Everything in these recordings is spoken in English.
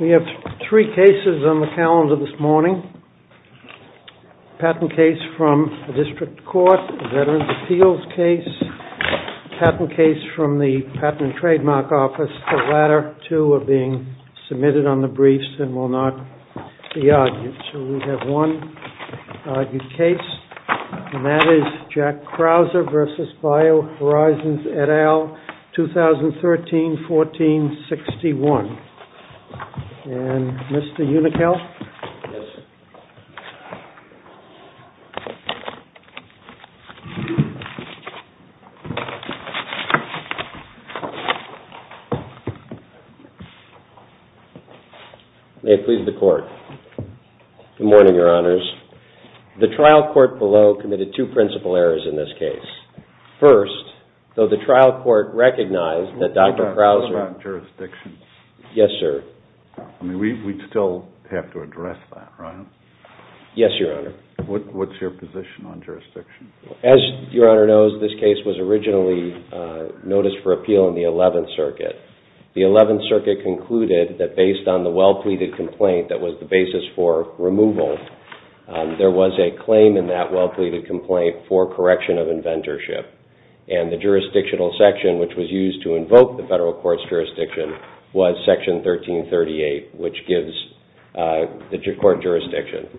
We have three cases on the calendar this morning, a patent case from the district court, a Veterans Appeals case, a patent case from the Patent and Trademark Office. The latter two are being submitted on the briefs and will not be argued. So we have one argued case, and that is Jack Unickel, 2013-14-61. And Mr. Unickel? May it please the Court. Good morning, Your Honors. The trial court below committed two principal errors in this case. First, though the trial court recognized that Dr. Krauser What about jurisdictions? Yes, sir. I mean, we'd still have to address that, right? Yes, Your Honor. What's your position on jurisdictions? As Your Honor knows, this case was originally noticed for appeal in the 11th Circuit. The 11th Circuit concluded that based on the well-pleaded complaint that was the basis for removal, there was a claim in that well-pleaded complaint for correction of inventorship. And the jurisdictional section, which was used to invoke the federal court's jurisdiction, was Section 1338, which gives the court jurisdiction.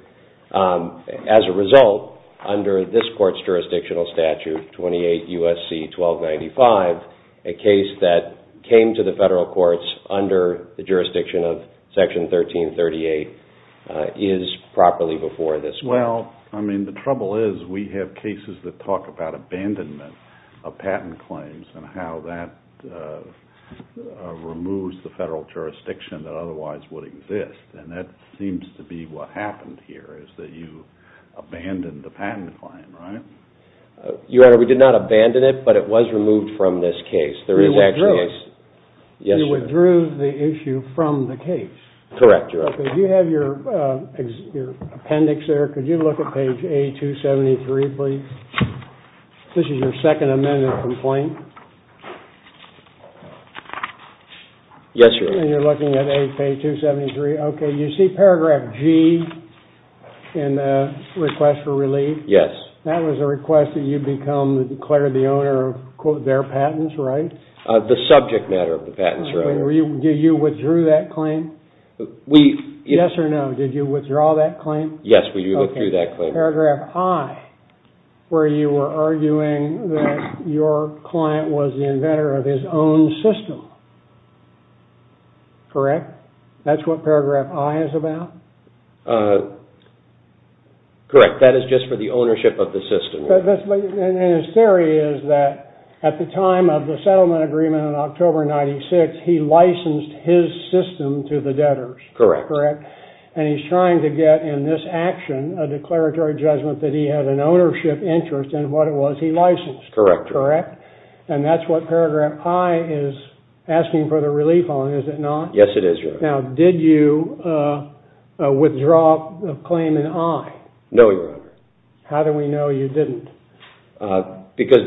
As a result, under this court's jurisdictional statute, 28 U.S.C. 1295, a case that came to the federal courts under the jurisdiction of Section 1338 is properly before this court. Well, I mean, the trouble is we have cases that talk about abandonment of patent claims and how that removes the federal jurisdiction that otherwise would exist. And that seems to be what happened here, is that you abandoned the patent claim, right? Your Honor, we did not abandon it, but it was removed from this case. You withdrew the issue from the case. Correct, Your Honor. Could you have your appendix there? Could you look at page A-273, please? This is your second amended complaint. Yes, Your Honor. And you're looking at page A-273. Okay, you see paragraph G in the request for relief? Yes. That was a request that you declared the owner of, quote, their patents, right? The subject matter of the patents, Your Honor. Do you withdrew that claim? Yes or no? Did you withdraw that claim? Yes, we withdrew that claim. Okay. Paragraph I, where you were arguing that your client was the inventor of his own system. Correct? That's what paragraph I is about? Correct. That is just for the ownership of the system. And his theory is that at the time of the settlement agreement on October 96, he licensed his system to the debtors. Correct. And he's trying to get in this action a declaratory judgment that he had an ownership interest in what it was he licensed. Correct. And that's what paragraph I is asking for the relief on, is it not? Yes, it is, Your Honor. Now, did you withdraw the claim in I? No, Your Honor. How do we know you didn't? Because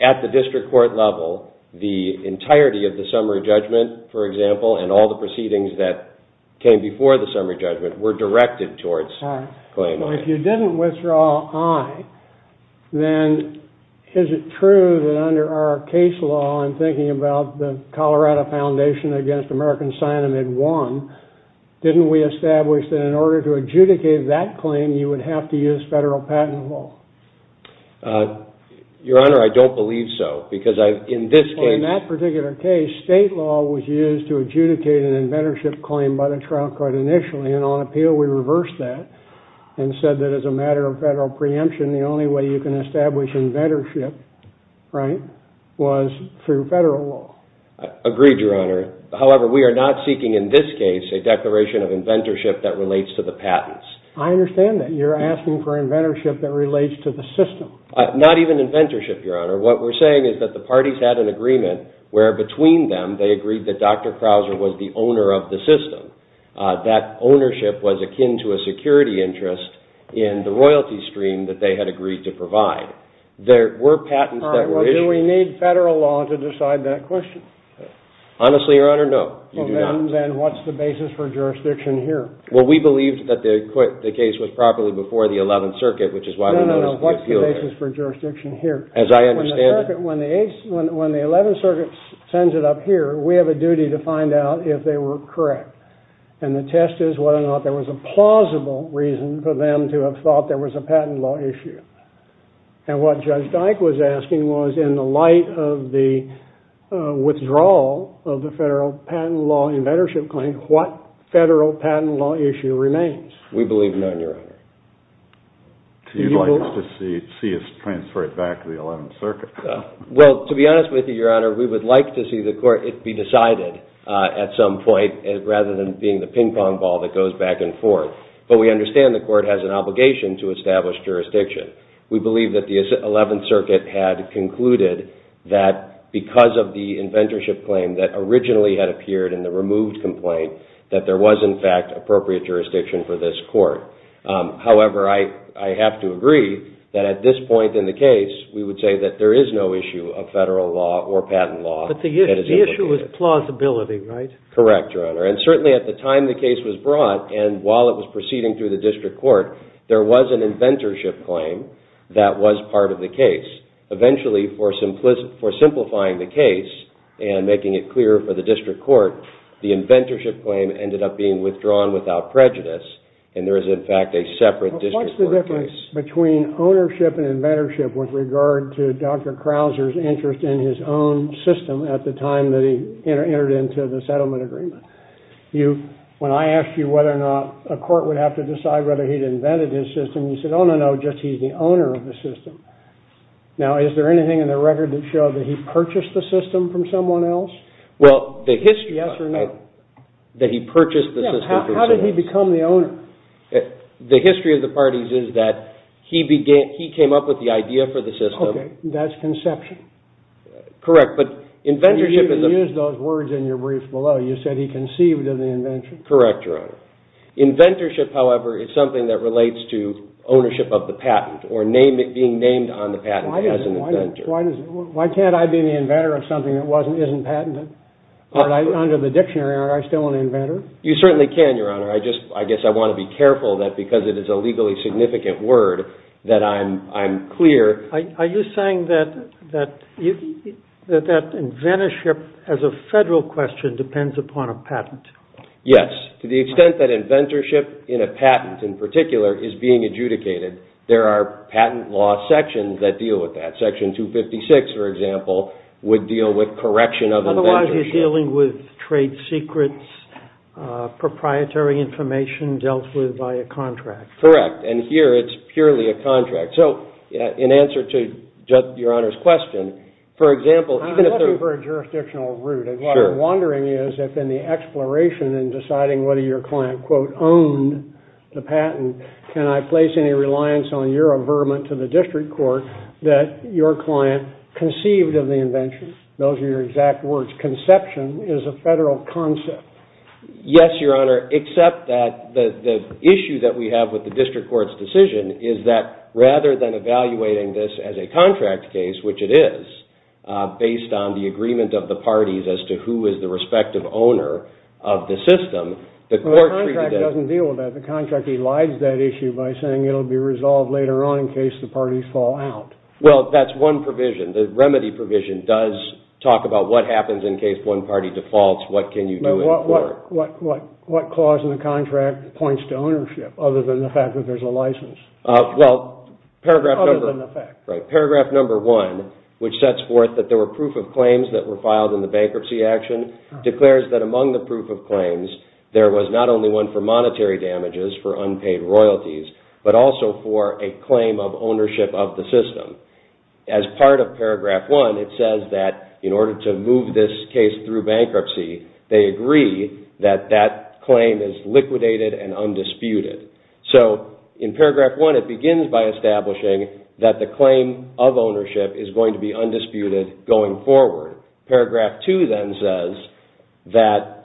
at the district court level, the entirety of the summary judgment, for example, and all the proceedings that came before the summary judgment were directed towards claim I. If you didn't withdraw I, then is it true that under our case law, I'm thinking about the Colorado Foundation against American Sinem had won, didn't we establish that in order to adjudicate that claim, you would have to use federal patent law? Your Honor, I don't believe so. In that particular case, state law was used to adjudicate an inventorship claim by the trial court initially, and on appeal we reversed that and said that as a matter of federal preemption, the only way you can establish inventorship was through federal law. Agreed, Your Honor. However, we are not seeking in this case a declaration of inventorship that relates to the patents. I understand that. You're asking for inventorship that relates to the system. Not even inventorship, Your Honor. What we're saying is that the parties had an agreement where between them they agreed that Dr. Krauser was the owner of the system. That ownership was akin to a security interest in the royalty stream that they had agreed to provide. There were patents that were issued. Do we need federal law to decide that question? Honestly, Your Honor, no. Then what's the basis for jurisdiction here? Well, we believed that the case was properly before the 11th Circuit, which is why we noticed the appeal case. No, no, no. What's the basis for jurisdiction here? As I understand it... When the 11th Circuit sends it up here, we have a duty to find out if they were correct. And the test is whether or not there was a plausible reason for them to have thought there was a patent law issue. And what Judge Dyke was asking was, in the light of the withdrawal of the federal patent law inventorship claim, what federal patent law issue remains? We believe none, Your Honor. You'd like us to see it transferred back to the 11th Circuit? Well, to be honest with you, Your Honor, we would like to see the court be decided at some point rather than being the ping-pong ball that goes back and forth. But we understand the court has an obligation to establish jurisdiction. We believe that the 11th Circuit had concluded that because of the inventorship claim that originally had appeared in the removed complaint that there was in fact appropriate jurisdiction for this court. However, I have to agree that at this point in the case we would say that there is no issue of federal law or patent law. But the issue was plausibility, right? Correct, Your Honor. And certainly at the time the case was brought and while it was proceeding through the district court, there was an inventorship claim that was part of the case. Eventually, for simplifying the case and making it clear for the district court, the inventorship claim ended up being withdrawn without prejudice and there is in fact a separate district court case. But what's the difference between ownership and inventorship with regard to Dr. Krauser's interest in his own system at the time that he entered into the settlement agreement? When I asked you whether or not a court would have to decide whether he'd invented his system, you said, oh, no, no, just he's the owner of the system. Now, is there anything in the record that showed that he purchased the system from someone else? Well, the history... Yes or no? That he purchased the system from someone else. How did he become the owner? The history of the parties is that he came up with the idea for the system... Okay, that's conception. Correct, but inventorship is... You even used those words in your brief below. You said he conceived of the invention. Correct, Your Honor. Inventorship, however, is something that relates to ownership of the patent or being named on the patent as an inventor. Why can't I be the inventor of something that isn't patented? Under the dictionary, aren't I still an inventor? You certainly can, Your Honor. I guess I want to be careful that because it is a legally significant word that I'm clear... Are you saying that inventorship as a federal question depends upon a patent? Yes, to the extent that inventorship in a patent in particular is being adjudicated, there are patent law sections that deal with that. Section 256, for example, would deal with correction of inventorship. Otherwise, you're dealing with trade secrets, proprietary information dealt with by a contract. Correct, and here it's purely a contract. So, in answer to your Honor's question, for example... I'm looking for a jurisdictional route. What I'm wondering is if in the exploration and deciding whether your client, quote, owned the patent, can I place any reliance on your averment to the district court that your client conceived of the invention? Those are your exact words. Conception is a federal concept. Yes, Your Honor, except that the issue that we have with the district court's decision is that rather than evaluating this as a contract case, which it is, based on the agreement of the parties as to who is the respective owner of the system, the court... The contract doesn't deal with that. The contract elides that issue by saying it will be resolved later on in case the parties fall out. Well, that's one provision. The remedy provision does talk about what happens in case one party defaults, what can you do in court. What clause in the contract points to ownership other than the fact that there's a license? Well, paragraph number... Other than the fact. Paragraph number one, which sets forth that there were proof of claims that were filed in the bankruptcy action, declares that among the proof of claims there was not only one for monetary damages for unpaid royalties, but also for a claim of ownership of the system. As part of paragraph one, it says that in order to move this case through bankruptcy they agree that that claim is liquidated and undisputed. So, in paragraph one, it begins by establishing that the claim of ownership is going to be undisputed going forward. Paragraph two then says that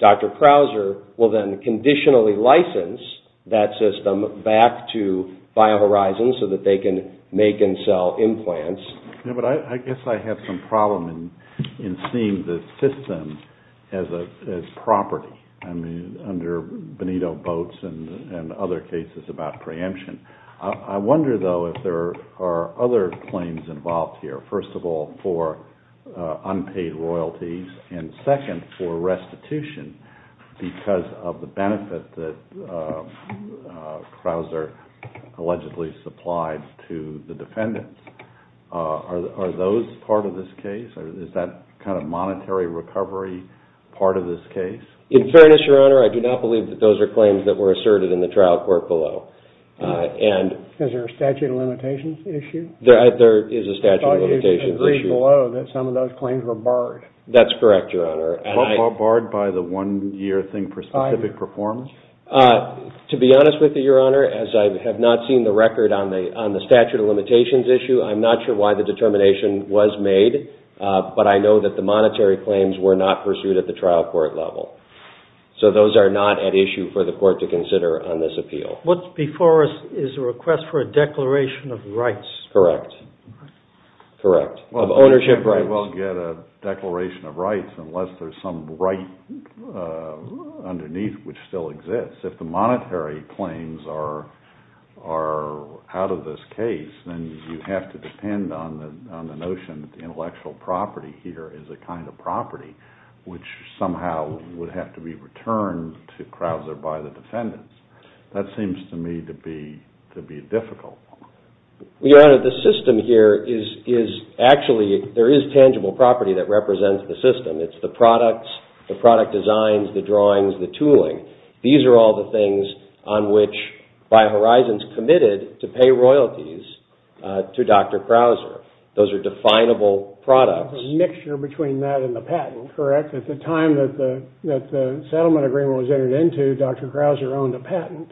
Dr. Krauser will then conditionally license that system back to BioHorizon so that they can make and sell implants. Yeah, but I guess I have some problem in seeing the system as property under Benito Boats and other cases about preemption. I wonder, though, if there are other claims involved here. First of all, one for unpaid royalties and second for restitution because of the benefit that Krauser allegedly supplied to the defendants. Are those part of this case? Is that kind of monetary recovery part of this case? In fairness, Your Honor, I do not believe that those are claims that were asserted in the trial court below. Is there a statute of limitations issue? There is a statute of limitations issue. I thought you agreed below that some of those claims were barred. That's correct, Your Honor. Barred by the one-year thing for specific performance? To be honest with you, Your Honor, as I have not seen the record on the statute of limitations issue, I'm not sure why the determination was made, but I know that the monetary claims were not pursued at the trial court level. So those are not at issue for the court to consider on this appeal. What's before us is a request for a declaration of rights. Correct. Correct. Ownership rights. You can't very well get a declaration of rights unless there's some right underneath which still exists. If the monetary claims are out of this case, then you have to depend on the notion that the intellectual property here is a kind of property which somehow would have to be returned to Krauser by the defendants. That seems to me to be difficult. Your Honor, the system here is actually, there is tangible property that represents the system. It's the products, the product designs, the drawings, the tooling. These are all the things on which BioHorizons committed to pay royalties to Dr. Krauser. Those are definable products. A mixture between that and the patent. Correct. At the time that the settlement agreement was entered into, Dr. Krauser owned a patent.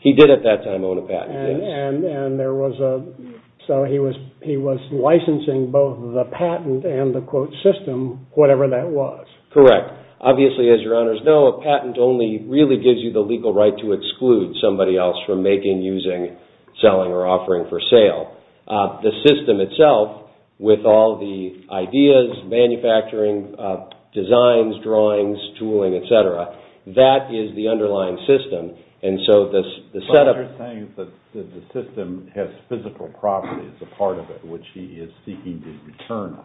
He did at that time own a patent. He was licensing both the patent and the system, whatever that was. Correct. Obviously, as your Honors know, a patent only really gives you the legal right to exclude somebody else from making, using, selling, or offering for sale. The system itself with all the ideas, manufacturing, designs, drawings, tooling, etc., that is the underlying system. You're saying that the system has physical properties, a part of it, which he is seeking to return.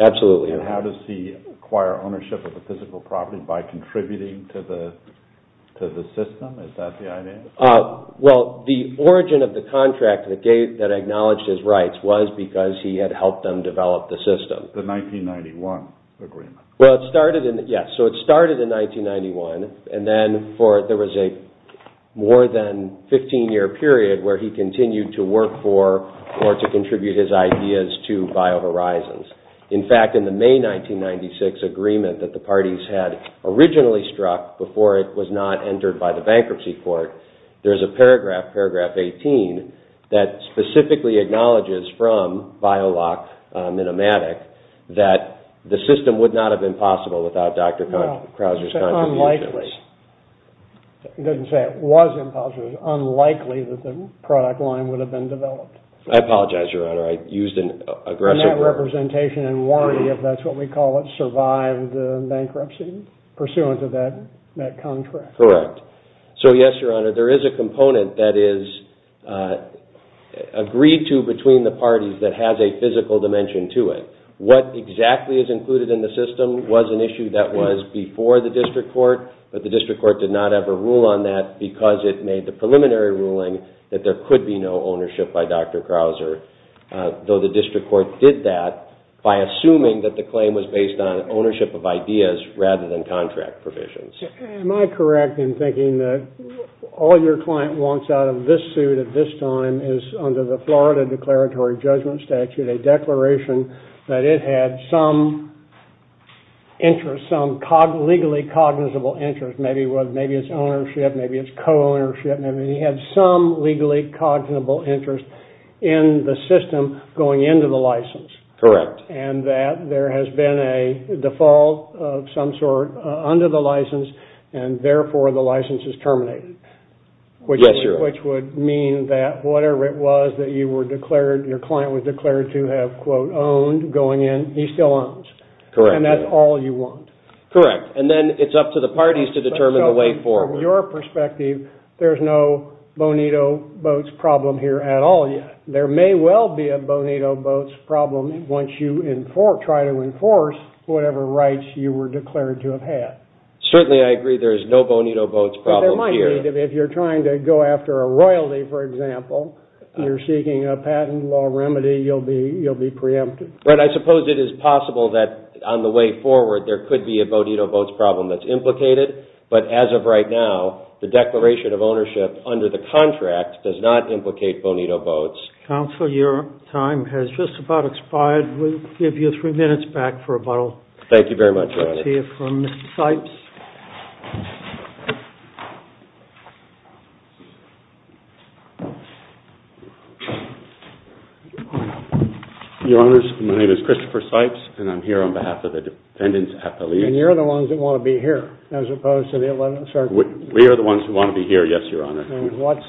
Absolutely. How does he acquire ownership of the physical property by contributing to the system? Is that the idea? The origin of the contract that acknowledged his rights was because he had helped them develop the system. The 1991 agreement. Yes. It started in 1991 and then there was a more than 15 year period where he continued to work for or to contribute his ideas to BioHorizons. In fact, in the May 1996 agreement that the parties had originally struck before it was not entered by the bankruptcy court, there is a paragraph, paragraph 18, that specifically acknowledges from BioLock Minimatic that the system would not have been possible without Dr. Krauser's contributions. Unlikely. He doesn't say it was impossible. It was unlikely that the product line would have been developed. I apologize, Your Honor. I used an aggressive word. And that representation and warranty, if that's what we call it, survived the bankruptcy pursuant to that contract. Correct. So, yes, Your Honor, there is a component that is agreed to between the parties that has a physical dimension to it. What exactly is included in the system was an issue that was before the district court, but the district court did not ever rule on that because it made the preliminary ruling that there could be no ownership by Dr. Krauser. Though the district court did that by assuming that the claim was based on ownership of ideas rather than contract provisions. Am I correct in thinking that all your client wants out of this suit at this time is under the Florida declaratory judgment statute a declaration that it had some interest, some legally cognizable interest, maybe it's ownership, maybe it's co-ownership, maybe it had some legally cognizable interest in the system going into the license. Correct. And that there has been a default of some sort under the license and therefore the license is terminated. Yes, Your Honor. Which would mean that whatever it was that you were declared, your client was declared to have, quote, owned going in, he still owns. Correct. And that's all you want. Correct. And then it's up to the parties to determine the way forward. From your perspective, there's no Bonito Boats problem here at all yet. There may well be a Bonito Boats problem once you try to enforce whatever rights you were declared to have had. Certainly I agree there's no Bonito Boats problem here. But there might be if you're trying to go after a royalty, for example, you're seeking a patent law remedy, you'll be preempted. Right. And I suppose it is possible that on the way forward there could be a Bonito Boats problem that's implicated. But as of right now, the declaration of ownership under the contract does not implicate Bonito Boats. your time has just about expired. We'll give you three minutes back for a bottle. Thank you very much, Your Honor. Let's hear from Mr. Sipes. Your Honor, my name is Christopher Sipes and I'm here on behalf of the defendants' appellees. And you're the ones that want to be here as opposed to the 11th Circuit? We are the ones who want to be here, yes, Your Honor. And what's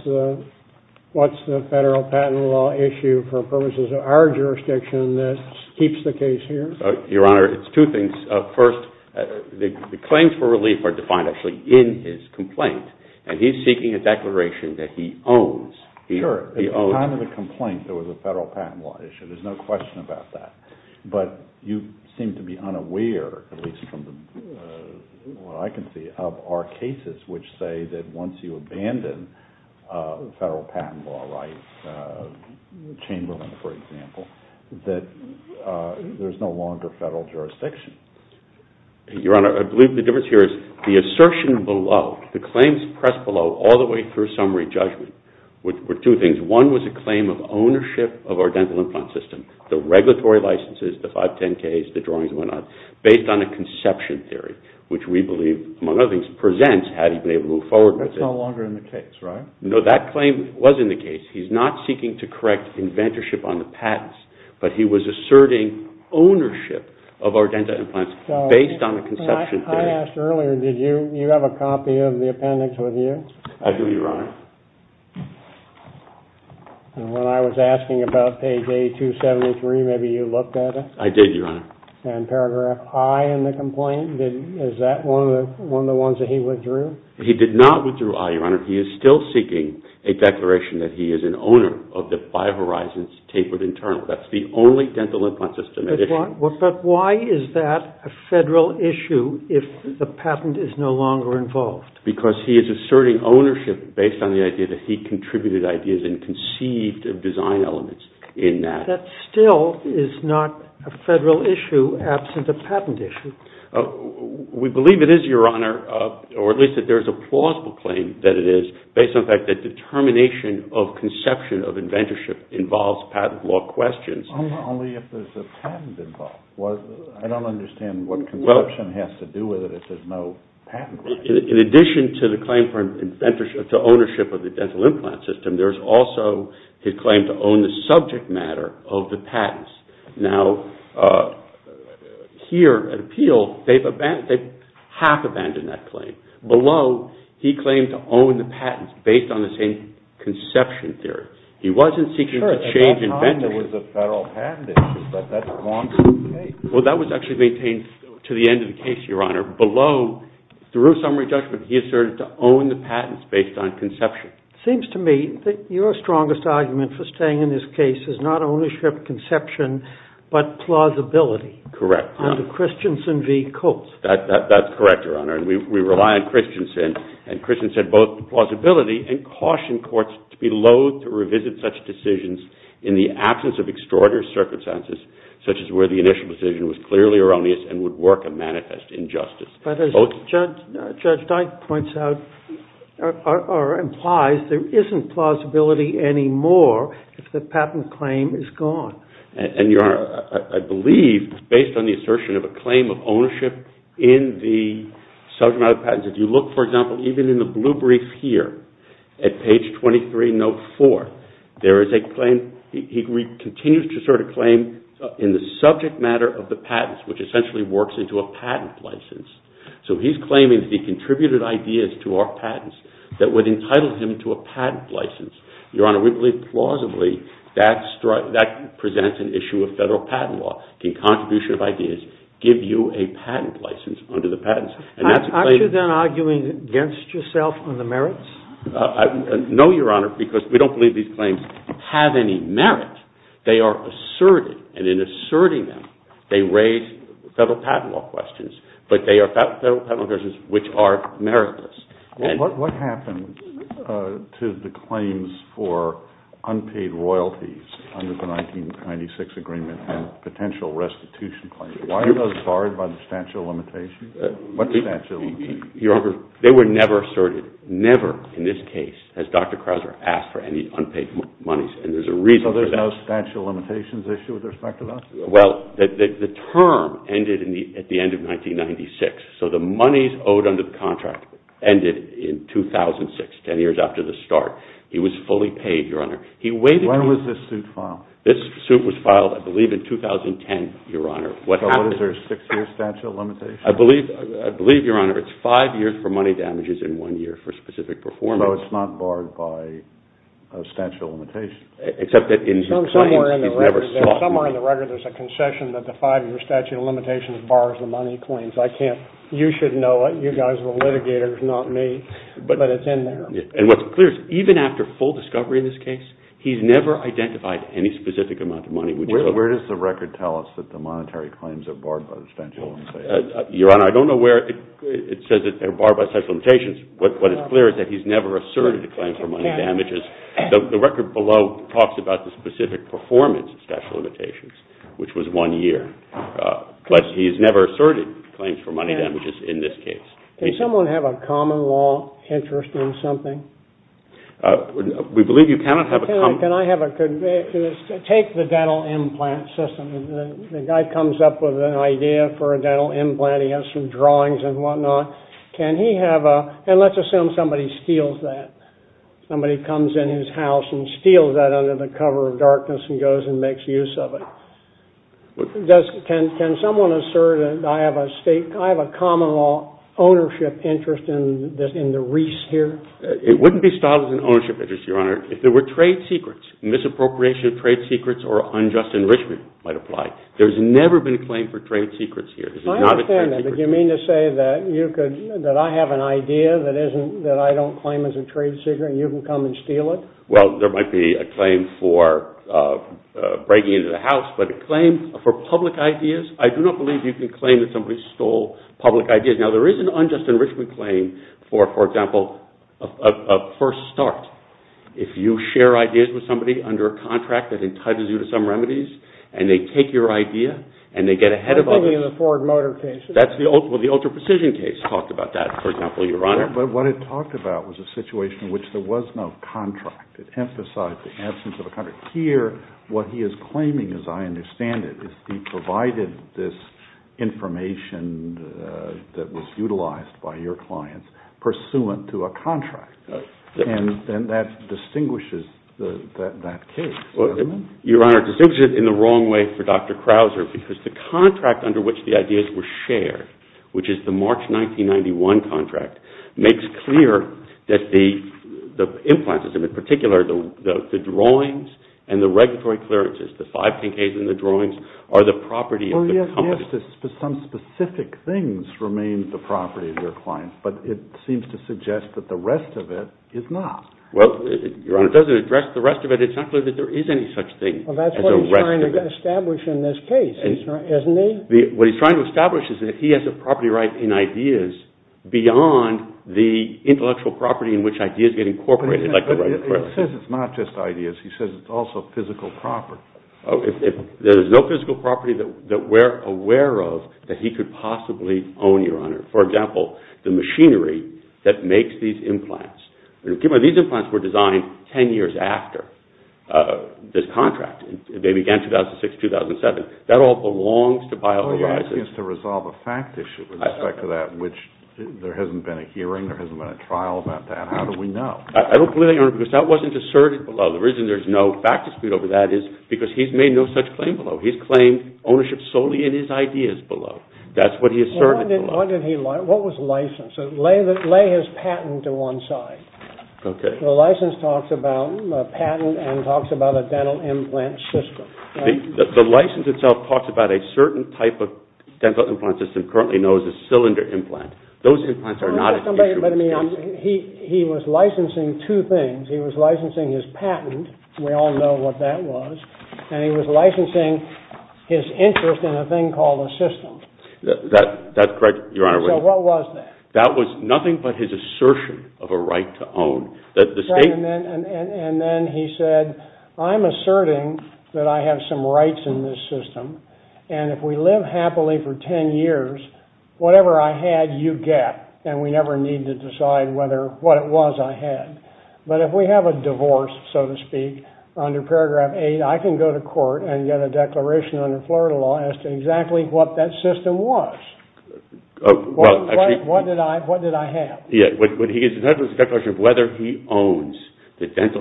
issue for purposes of our jurisdiction that keeps the case here? Your Honor, it's two things. First, the claims for the Bonito Boats case and the claims for relief are defined actually in his complaint and he's seeking a declaration that he owns Sure. At the time of the complaint there was a federal patent law issue. There's no question about that. But you seem to be unaware at least from what I can see of our cases which say that once you abandon federal patent law rights Chamberlain, for example, that there's no longer federal jurisdiction. Your Honor, I believe the difference here is the assertion below, the claims pressed below all the way through summary judgment were two things. One was a claim of ownership of our dental implant system, the regulatory licenses, the 510Ks, the drawings and whatnot based on a conception theory which we believe among other things presents how to move forward with it. That's no longer in the case, right? No, that claim was in the case. He's not seeking to correct inventorship on the patents but he was asserting ownership of our dental implants based on a conception theory. I asked earlier did you have a copy of the appendix with you? I do, Your Honor. When I was asking about page 8273 maybe you looked at it? I did, Your Honor. And paragraph I in the complaint, is that one of the ones that he went through? He did not go through, Your Honor. He is still seeking a declaration that he is an owner of the Bio Horizons tapered internal. That's the only dental implant system. But why is that a federal issue if the patent is no longer involved? Because he is asserting ownership based on the idea that he contributed ideas and conceived of design elements in that. That still is not a federal issue absent a patent issue. We believe it is, Your Honor, or at least that there is a plausible claim that it is based on the fact that determination of conception of inventorship involves the patent system and the dental implant system, there is also his claim to own the subject matter of the patents. Now, here at appeal, they have half abandoned that claim. Below, he claimed to own the patents based on the same conception theory. He wasn't certain to own the patents based on conception. It seems to me that your strongest argument for staying in this case is not ownership conception but plausibility under Christensen v. Coates. That is correct, Your Honor. We rely on Christensen and Christensen said both plausibility and caution courts to be loath to revisit such decisions in the absence of extraordinary circumstances such as where the initial decision was clearly erroneous and would work a manifest injustice. But as Judge Dike points out or implies, there isn't plausibility anymore if the patent claim is gone. And, Your Honor, I believe based on Judge Dike's claim, he continues to assert a claim in the subject matter of the patents which essentially works into a patent license. So he's claiming that he contributed ideas to our patents that would entitle him to a patent license. Your Honor, we believe plausibly that presents an issue of federal patent law in contribution of ideas give you a patent license under the patents. Aren't you then arguing against yourself on the merits? No, Your Honor, because we don't believe have any merit. They are asserted and in asserting them, they raise federal patent law questions but they are federal patent law questions which are meritless. What happens to the claims for unpaid royalties under the 1996 agreement and potential restitution claims? Why are those barred by the statute of limitations? What's the statute of limitations? Your Honor, they were never asserted, never in this case as Dr. Krauser asked for any unpaid monies and there's a reason for that. So there's no statute of limitations issue with respect to that? Well, the term ended at the end of 1996 so the monies owed under the contract ended in 2006, ten years after the start. He was fully paid, Your Honor. Where was this suit filed? This suit was filed I believe in 2010, Your Honor. So what is there, six years statute of limitations? I believe, Your Honor, it's five years for money damages and one year for specific performance. So it's not barred by the statute of limitations? Somewhere in the record there's a concession that the five-year statute of limitations bars the money claims. I can't, you should know it. You guys are litigators, not me. But it's in there. And what's clear is even after full discovery of this case he's never identified any specific amount of money. Where does the record tell us that the monetary claims are barred by the statute of limitations? Your Honor, I don't know where it says that they're barred by the statute of limitations. What is clear is that he's never asserted the claims for money damages. The record below talks about the specific performance of statute of which was one year. But he's never asserted claims for money damages in this case. Can someone have a common law interest in something? We believe that the state has a common law interest in the wreaths here. It wouldn't be styled as an ownership interest, Your Honor, if there were trade secrets, misappropriation of trade secrets or unjust enrichment might apply. There's never been a claim for trade secrets here. I understand that, but you mean to say that I have an idea that I don't claim as a trade secret and you can come and steal it? Well, there might be a claim for breaking into the house, but a claim for public ideas, I do not believe you can claim that somebody stole public ideas. Now, there is an unjust enrichment claim, for example, a first start. If you share ideas with somebody under a contract that entitles you to some remedies and they take your idea and they get ahead of others, that's the ultra-precision case. Talked about that, for example, Your Honor. But what it talked about was a situation in which there was no contract. It emphasized the absence of a contract. Here, what he is claiming, as I understand it, is he provided this information that was utilized by your clients pursuant to a contract. And that distinguishes that case. Your Honor, it distinguishes it in the wrong way for Dr. Krauser, because the contract under which the ideas were shared, which is the March 1991 contract, makes clear that the influences, in particular the drawings and the regulatory clearances, the five pink A's in the drawings, are the property of the company. Well, yes, some specific things remain the property of your clients, but it seems to suggest that the rest of it is not. Well, Your Honor, it doesn't address the rest of it. It's not clear that there is any such thing. Well, that's what he's trying to establish in this case, isn't he? What he's trying to establish is that he has a property right in ideas beyond the intellectual property in which he has claimed ownership solely in his ideas below. That's what he asserted below. side. Because he's made no such claim below. He's claimed ownership solely in his ideas below. That's what he asserted below. The license talks about a patent and talks about a dental implant system. The license itself talks about a certain type of dental implant system currently known as a cylinder implant. He was licensing two things. He was licensing his patent. We all know what that was. And he was licensing his interest in a thing called a pinhole system. That's what he asserted below. He was shortening the whole point. Whether he owns the dental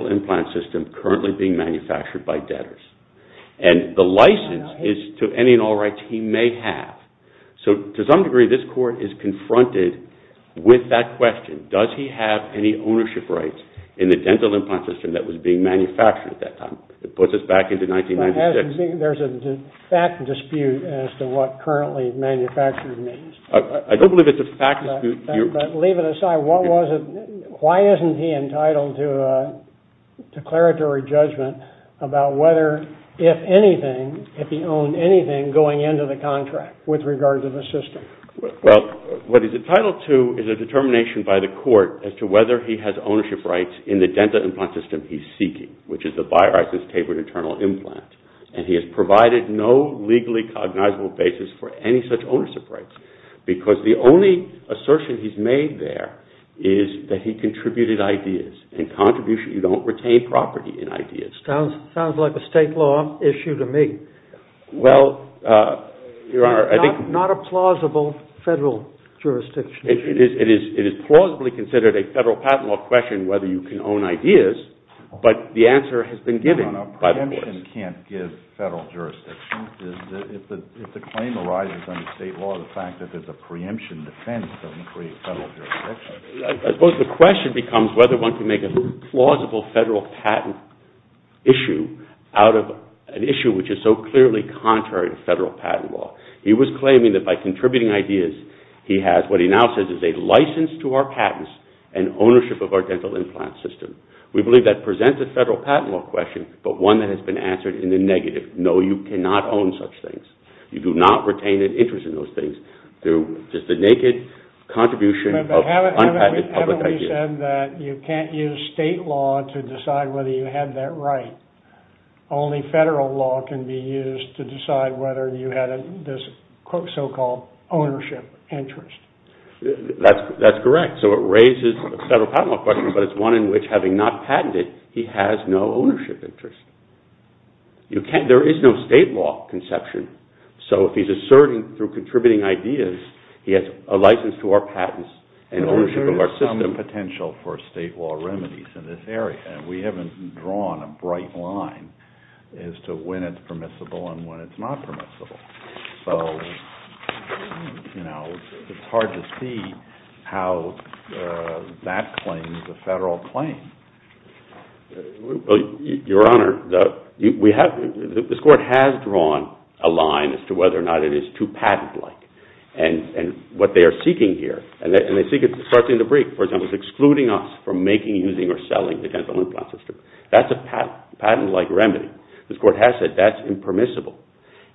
implant system currently being manufactured by debtors. The license is to any and all rights he may have. So to some degree this court is confronted with that question. Does he have any ownership rights in the dental implant system that was being manufactured at that time? It puts us back into 1996. There's a fact dispute as to what currently manufacturing means. I don't believe it's a fact dispute. Leave it aside. What was it? Why isn't he entitled to a declaratory judgment about whether, if anything, if he owned anything going into the contract with regards to the system? Well, what he's entitled to is a determination by the court as to whether he has ownership rights in the dental implant system he's seeking, which is the bioicense tapered internal implant. And he has provided no legally cognizable basis for any such ownership rights. Because the only assertion he's made there is that he contributed ideas and contributions. You don't retain property in ideas. Sounds like a state law issue to me. Well, Your Honor, I think... Not a plausible federal jurisdiction issue. It is plausibly considered a federal patent law question whether you can own ideas. But the answer has been given by the courts. The question can't give federal jurisdiction. If the claim arises under state law, the fact that there's a preemption defense doesn't create federal jurisdiction. I suppose the question becomes whether one can make a plausible federal patent issue out of an issue which is so clearly contrary to federal patent law. He was claiming that by contributing ideas, he has what he now says is a license to our patents and ownership of our dental implant system. We believe that presents a federal patent law question, but one that has been answered in the negative. No, you cannot own such things. You do not retain an interest in those things through just a naked contribution of unpatented public ideas. But haven't we said that you can't use state law to decide whether you had that right? Only federal law can be used to decide whether you had this so-called ownership interest. That's correct. So it raises a federal patent law question, but it's one in which having not patented, he has no ownership interest. There is no state law conception. So if he's asserting through contributing ideas, he has a license to our patents and ownership of our system. There is some potential for state law remedies in this area. We haven't drawn a bright line as to when it's permissible and when it's not permissible. So it's hard to see how that claims a federal claim. Your Honor, this Court has drawn a line as to whether or not it is too patent-like. And what they are seeking here, and they seek it starting in the brief, for example, is excluding us from making, using, or selling the dental implant system. That's a patent-like remedy. This Court has said that's impermissible.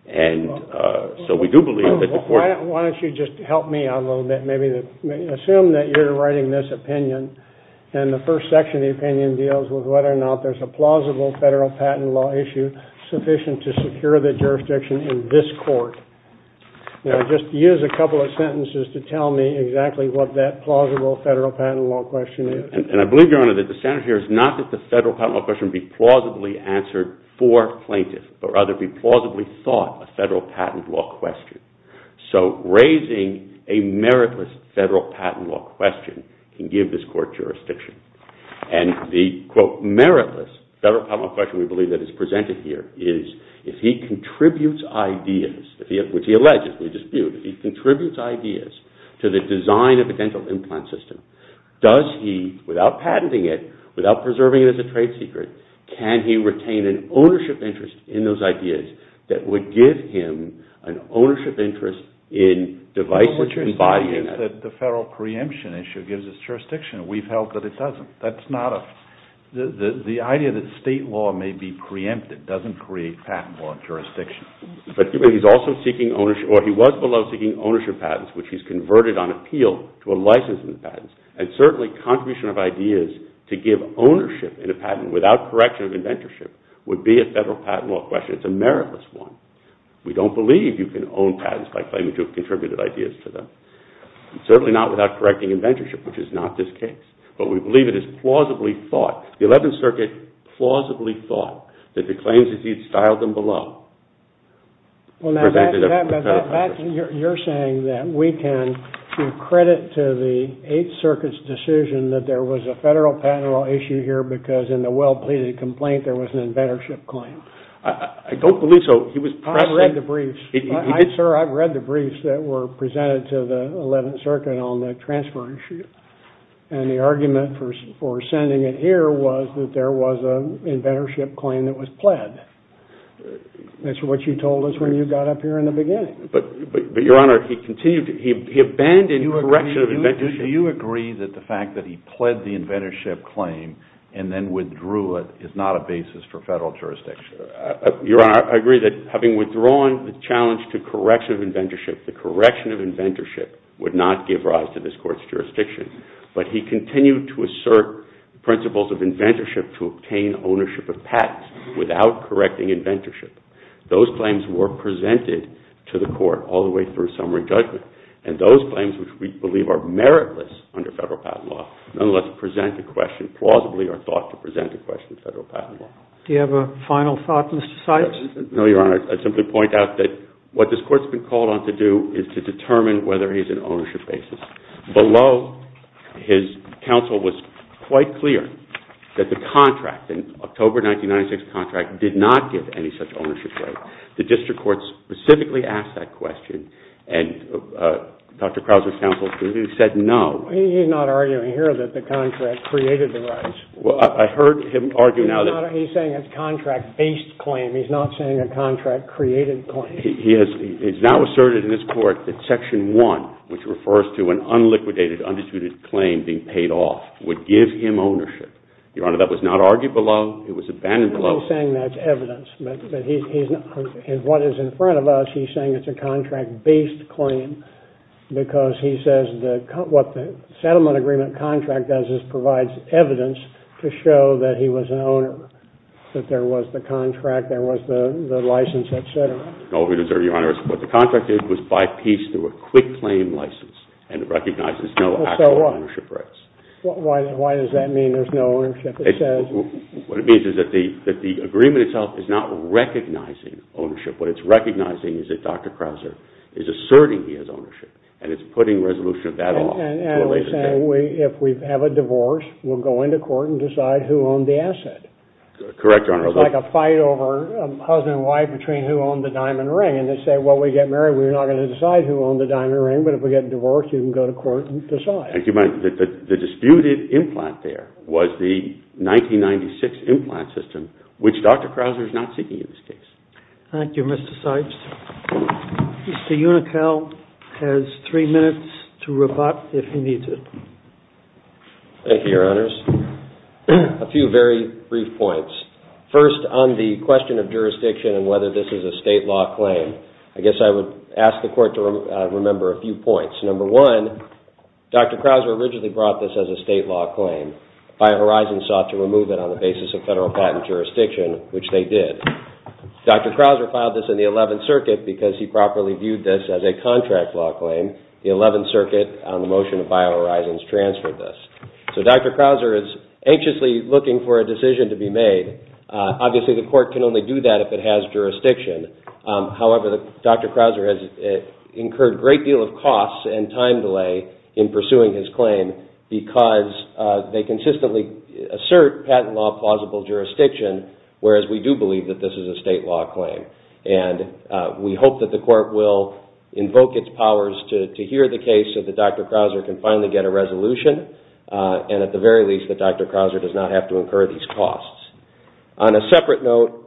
And so we do believe that the Court... Why don't you just help me out a little bit? Maybe assume that you're writing this opinion, and the first section of the opinion deals with whether or not there's a plausible federal patent law issue sufficient to secure the jurisdiction in this Court. Now, just use a couple of sentences to tell me exactly what that plausible federal patent law question is. And I believe, Your Honor, that the standard here is not that the federal patent law question be plausibly answered for plaintiff, but rather be plausibly thought a federal patent law question. So raising a meritless federal patent law question can give this Court jurisdiction. And the, quote, meritless federal patent law question we believe that is presented here is, if he contributes ideas, which he alleges, we dispute, if he contributes ideas to the design of a dental implant system, does he, without patenting it, without preserving it as a trade secret, can he retain an ownership interest in those ideas that would give him an ownership interest in devices and body in it? The federal preemption issue gives us jurisdiction. We've held that it doesn't. That's not a... The idea that state law may be preempted doesn't create patent law jurisdiction. But he's also seeking ownership... Or he was below seeking ownership patents, which he's converted on appeal to a license And certainly contribution of ideas to give ownership in a patent without correction of inventorship would be a federal patent law question. It's a meritless one. We don't believe you can own patents by claiming to have contributed ideas to them. Certainly not without correcting inventorship, which is not this case. But we believe it is plausibly thought, the 11th Circuit plausibly thought that the claims that he had styled them below... You're saying that we can give credit to the 8th Circuit's decision that there was a federal patent law issue here because in the well-pleaded complaint there was an inventorship claim. I don't believe so. He was... I've read the briefs. Sir, I've read the briefs that were presented to the 11th Circuit on the transfer issue. And the argument for sending it here was that there was an inventorship claim that was pled. That's what you told us when you got up here in the beginning. But, Your Honor, he continued... He abandoned correction of inventorship. Do you agree that the fact that he pled the inventorship claim and then withdrew it is not a basis for federal jurisdiction? Your Honor, I agree that having withdrawn the challenge to correction of inventorship, the correction of inventorship would not give rise to this Court's jurisdiction. But he continued to assert principles of inventorship to obtain ownership of patents without correcting inventorship. Those claims were presented to the Court all the way through summary judgment. And those claims, which we believe are meritless under federal patent law, nonetheless present a question, plausibly are thought to present a question to federal patent law. Do you have a final thought, Mr. Sykes? No, Your Honor. I'd simply point out that what this Court's been called on to do is to determine whether he's an ownership basis. Below, his counsel was quite clear that the contract, the October 1996 contract, did not give any such ownership right. The district court specifically asked that question. And Dr. Krause's counsel said no. He's not arguing here that the contract created the rights. I heard him argue now that... He's saying it's a contract-based claim. He's not saying a contract-created claim. He's now asserted in this Court that Section 1, which refers to an unliquidated, undisputed claim being paid off, would give him ownership. Your Honor, that was not argued below. It was abandoned below. He's not saying that's evidence. But what is in front of us, he's saying it's a contract-based claim. Because he says what the settlement agreement contract does is provides evidence to show that he was an owner. Your Honor, what the contract did was by piece through a quick claim license. And it recognizes no actual ownership rights. Why does that mean there's no ownership? What it means is that the agreement itself is not recognizing ownership. What it's recognizing is that Dr. Krause is asserting he has ownership. And it's putting resolution of that off. And we're saying if we have a divorce, we'll go into court and decide who owned the asset. Correct, Your Honor. It's like a fight over husband and wife between who owned the diamond ring. And they say, well, we get married, we're not going to decide who owned the diamond ring. But if we get divorced, you can go to court and decide. The disputed implant there was the 1996 implant system, which Dr. Krause is not seeking in this case. Thank you, Mr. Sipes. Mr. Unikow has three minutes to rebut if he needs it. Thank you, Your Honors. A few very brief points. First, on the question of jurisdiction and whether this is a state law claim, I guess I would ask the court to remember a few points. Number one, Dr. Krause originally brought this as a state law claim. BioHorizons sought to remove it on the basis of federal patent jurisdiction, which they did. Dr. Krause filed this in the 11th Circuit because he properly viewed this as a contract law claim. The 11th Circuit on the motion of BioHorizons transferred this. Dr. Krause is anxiously looking for a decision to be made. Obviously, the court can only do that if it has jurisdiction. However, Dr. Krause has incurred a great deal of costs and time delay in pursuing his claim because they consistently assert patent law plausible jurisdiction, whereas we do believe that this is a state law claim. We hope that the court will invoke its powers to hear the case so that Dr. Krause can finally get a resolution. And at the very least, that Dr. Krause does not have to incur these costs. On a separate note,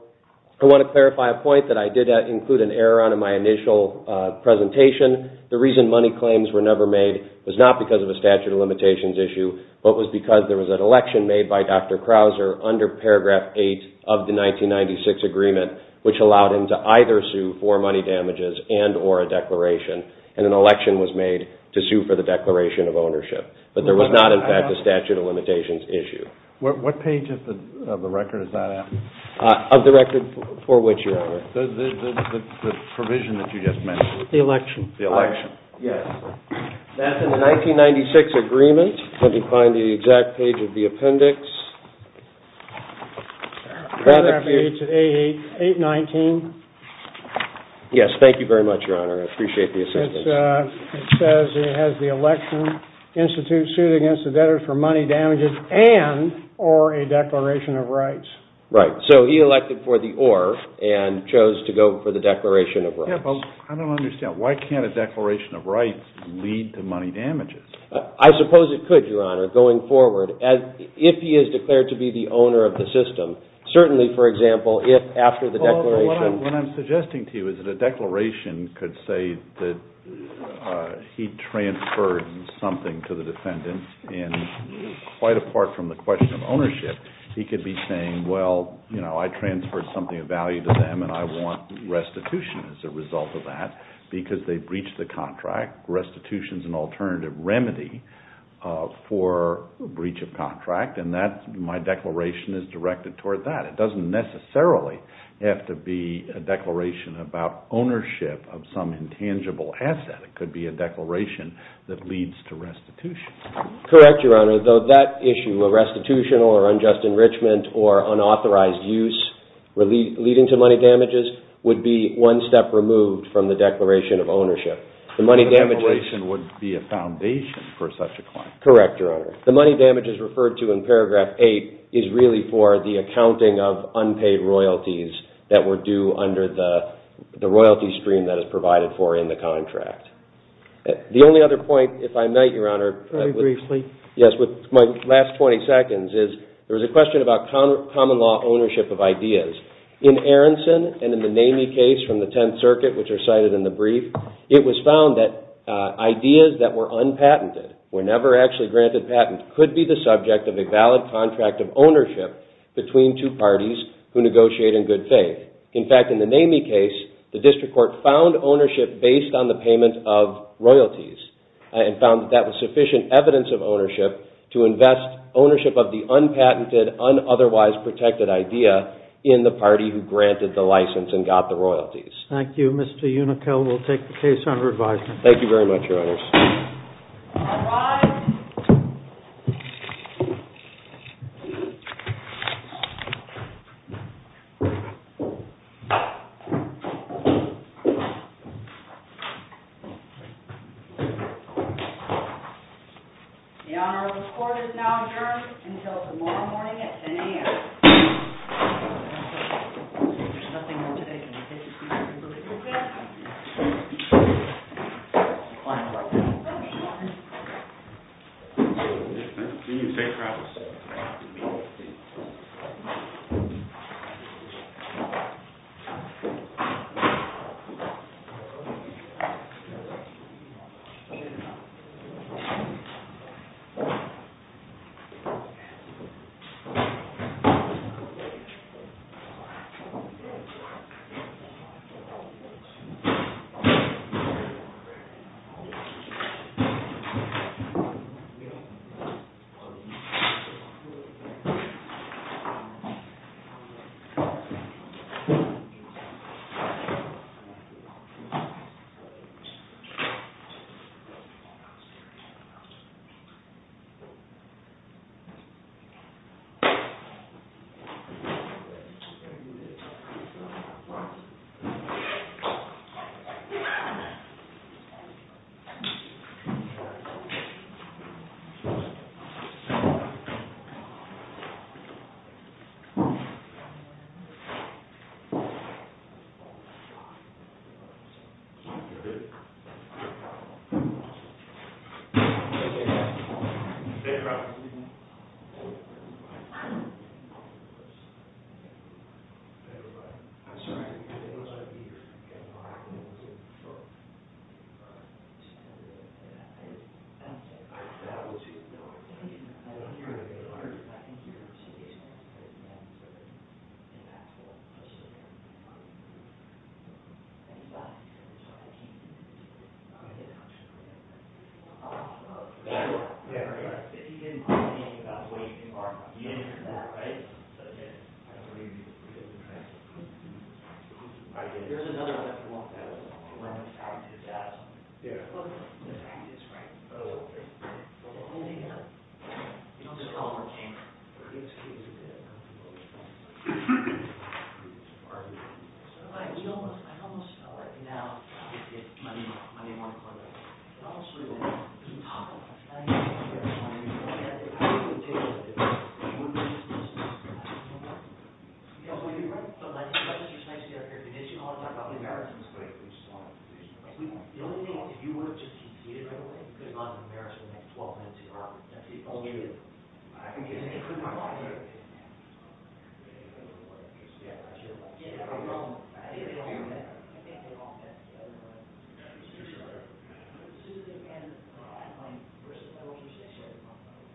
I want to clarify a point that I did include an error on in my initial presentation. The reason money claims were never made was not because of a statute of limitations issue, but was because there was an election made by Dr. Krause under paragraph 8 of the 1996 agreement, which allowed him to either sue for money damages and or a declaration. And an election was made to sue for the declaration of ownership. But there was not, in fact, a statute of limitations issue. What page of the record is that at? Of the record for which you're aware. The provision that you just mentioned. The election. The election, yes. That's in the 1996 agreement. Let me find the exact page of the appendix. 819. Yes, thank you very much, Your Honor. I appreciate the assistance. It says it has the election institute sued against the debtors for money damages and or a declaration of rights. Right. So he elected for the or and chose to go for the declaration of rights. I don't understand. Why can't a declaration of rights lead to money damages? I suppose it could, Your Honor, going forward, if he is declared to be the owner of the system. Certainly, for example, if after the declaration. What I'm suggesting to you is that a declaration could say that he transferred something to the defendant. And quite apart from the question of ownership, he could be saying, well, you know, I transferred something of value to them. And I want restitution as a result of that. Because they breached the contract. Restitution is an alternative remedy for breach of contract. And my declaration is directed toward that. It doesn't necessarily have to be a declaration about ownership of some intangible asset. It could be a declaration that leads to restitution. Correct, Your Honor. Though that issue, a restitutional or unjust enrichment or unauthorized use leading to money damages, would be one step removed from the declaration of ownership. The declaration would be a foundation for such a claim. Correct, Your Honor. The money damages referred to in paragraph 8 is really for the accounting of unpaid royalties that were due under the royalty stream that is provided for in the contract. The only other point, if I might, Your Honor, Very briefly. Yes, with my last 20 seconds, is there was a question about common law ownership of ideas. In Aronson and in the NAMI case from the Tenth Circuit, which are cited in the brief, it was found that ideas that were unpatented, were never actually granted patent, could be the subject of a valid contract of ownership between two parties who negotiate in good faith. In fact, in the NAMI case, the district court found ownership based on the payment of royalties, and found that that was sufficient evidence of ownership to invest ownership of the unpatented, unotherwise protected idea in the party who granted the license and got the royalties. Thank you, Mr. Unickel. We'll take the case under advisement. Thank you very much, Your Honors. All rise. The honor of the court is now adjourned until tomorrow morning at 10 a.m. There's nothing more to take. Thank you. Thank you. Thank you. All right. I'm sorry I didn't get those ideas. If you didn't have anything about the way you can bargain, then you didn't need that, right? I don't believe you. There's another one that came up that I don't know. Yeah. The fact is, right? Oh, okay. But we're only here. We don't just come over here. You know what? I almost know right now. Yeah. My name wasn't on there. I almost knew it. You can talk about it. I know. I know. Yeah. Like, you've got your site to get away with a condition. All the time. The only thing is, you were just compete right away. You could not have embarrassed yourself for less than, like, twelve minutes. Wait. Yeah. Well, I didn't hear a man. Constitution right? Susan accomplished. I don't mind. I don't usually accept it.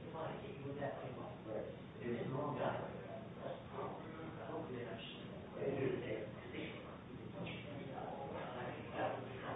You might think you were that way, but you're getting a long time. That's probably how it works. I hope you're going to understand that. I'm going to do it again. I think you're going to get it. I think that would be fine. I think that would be fine. Yeah. Yeah.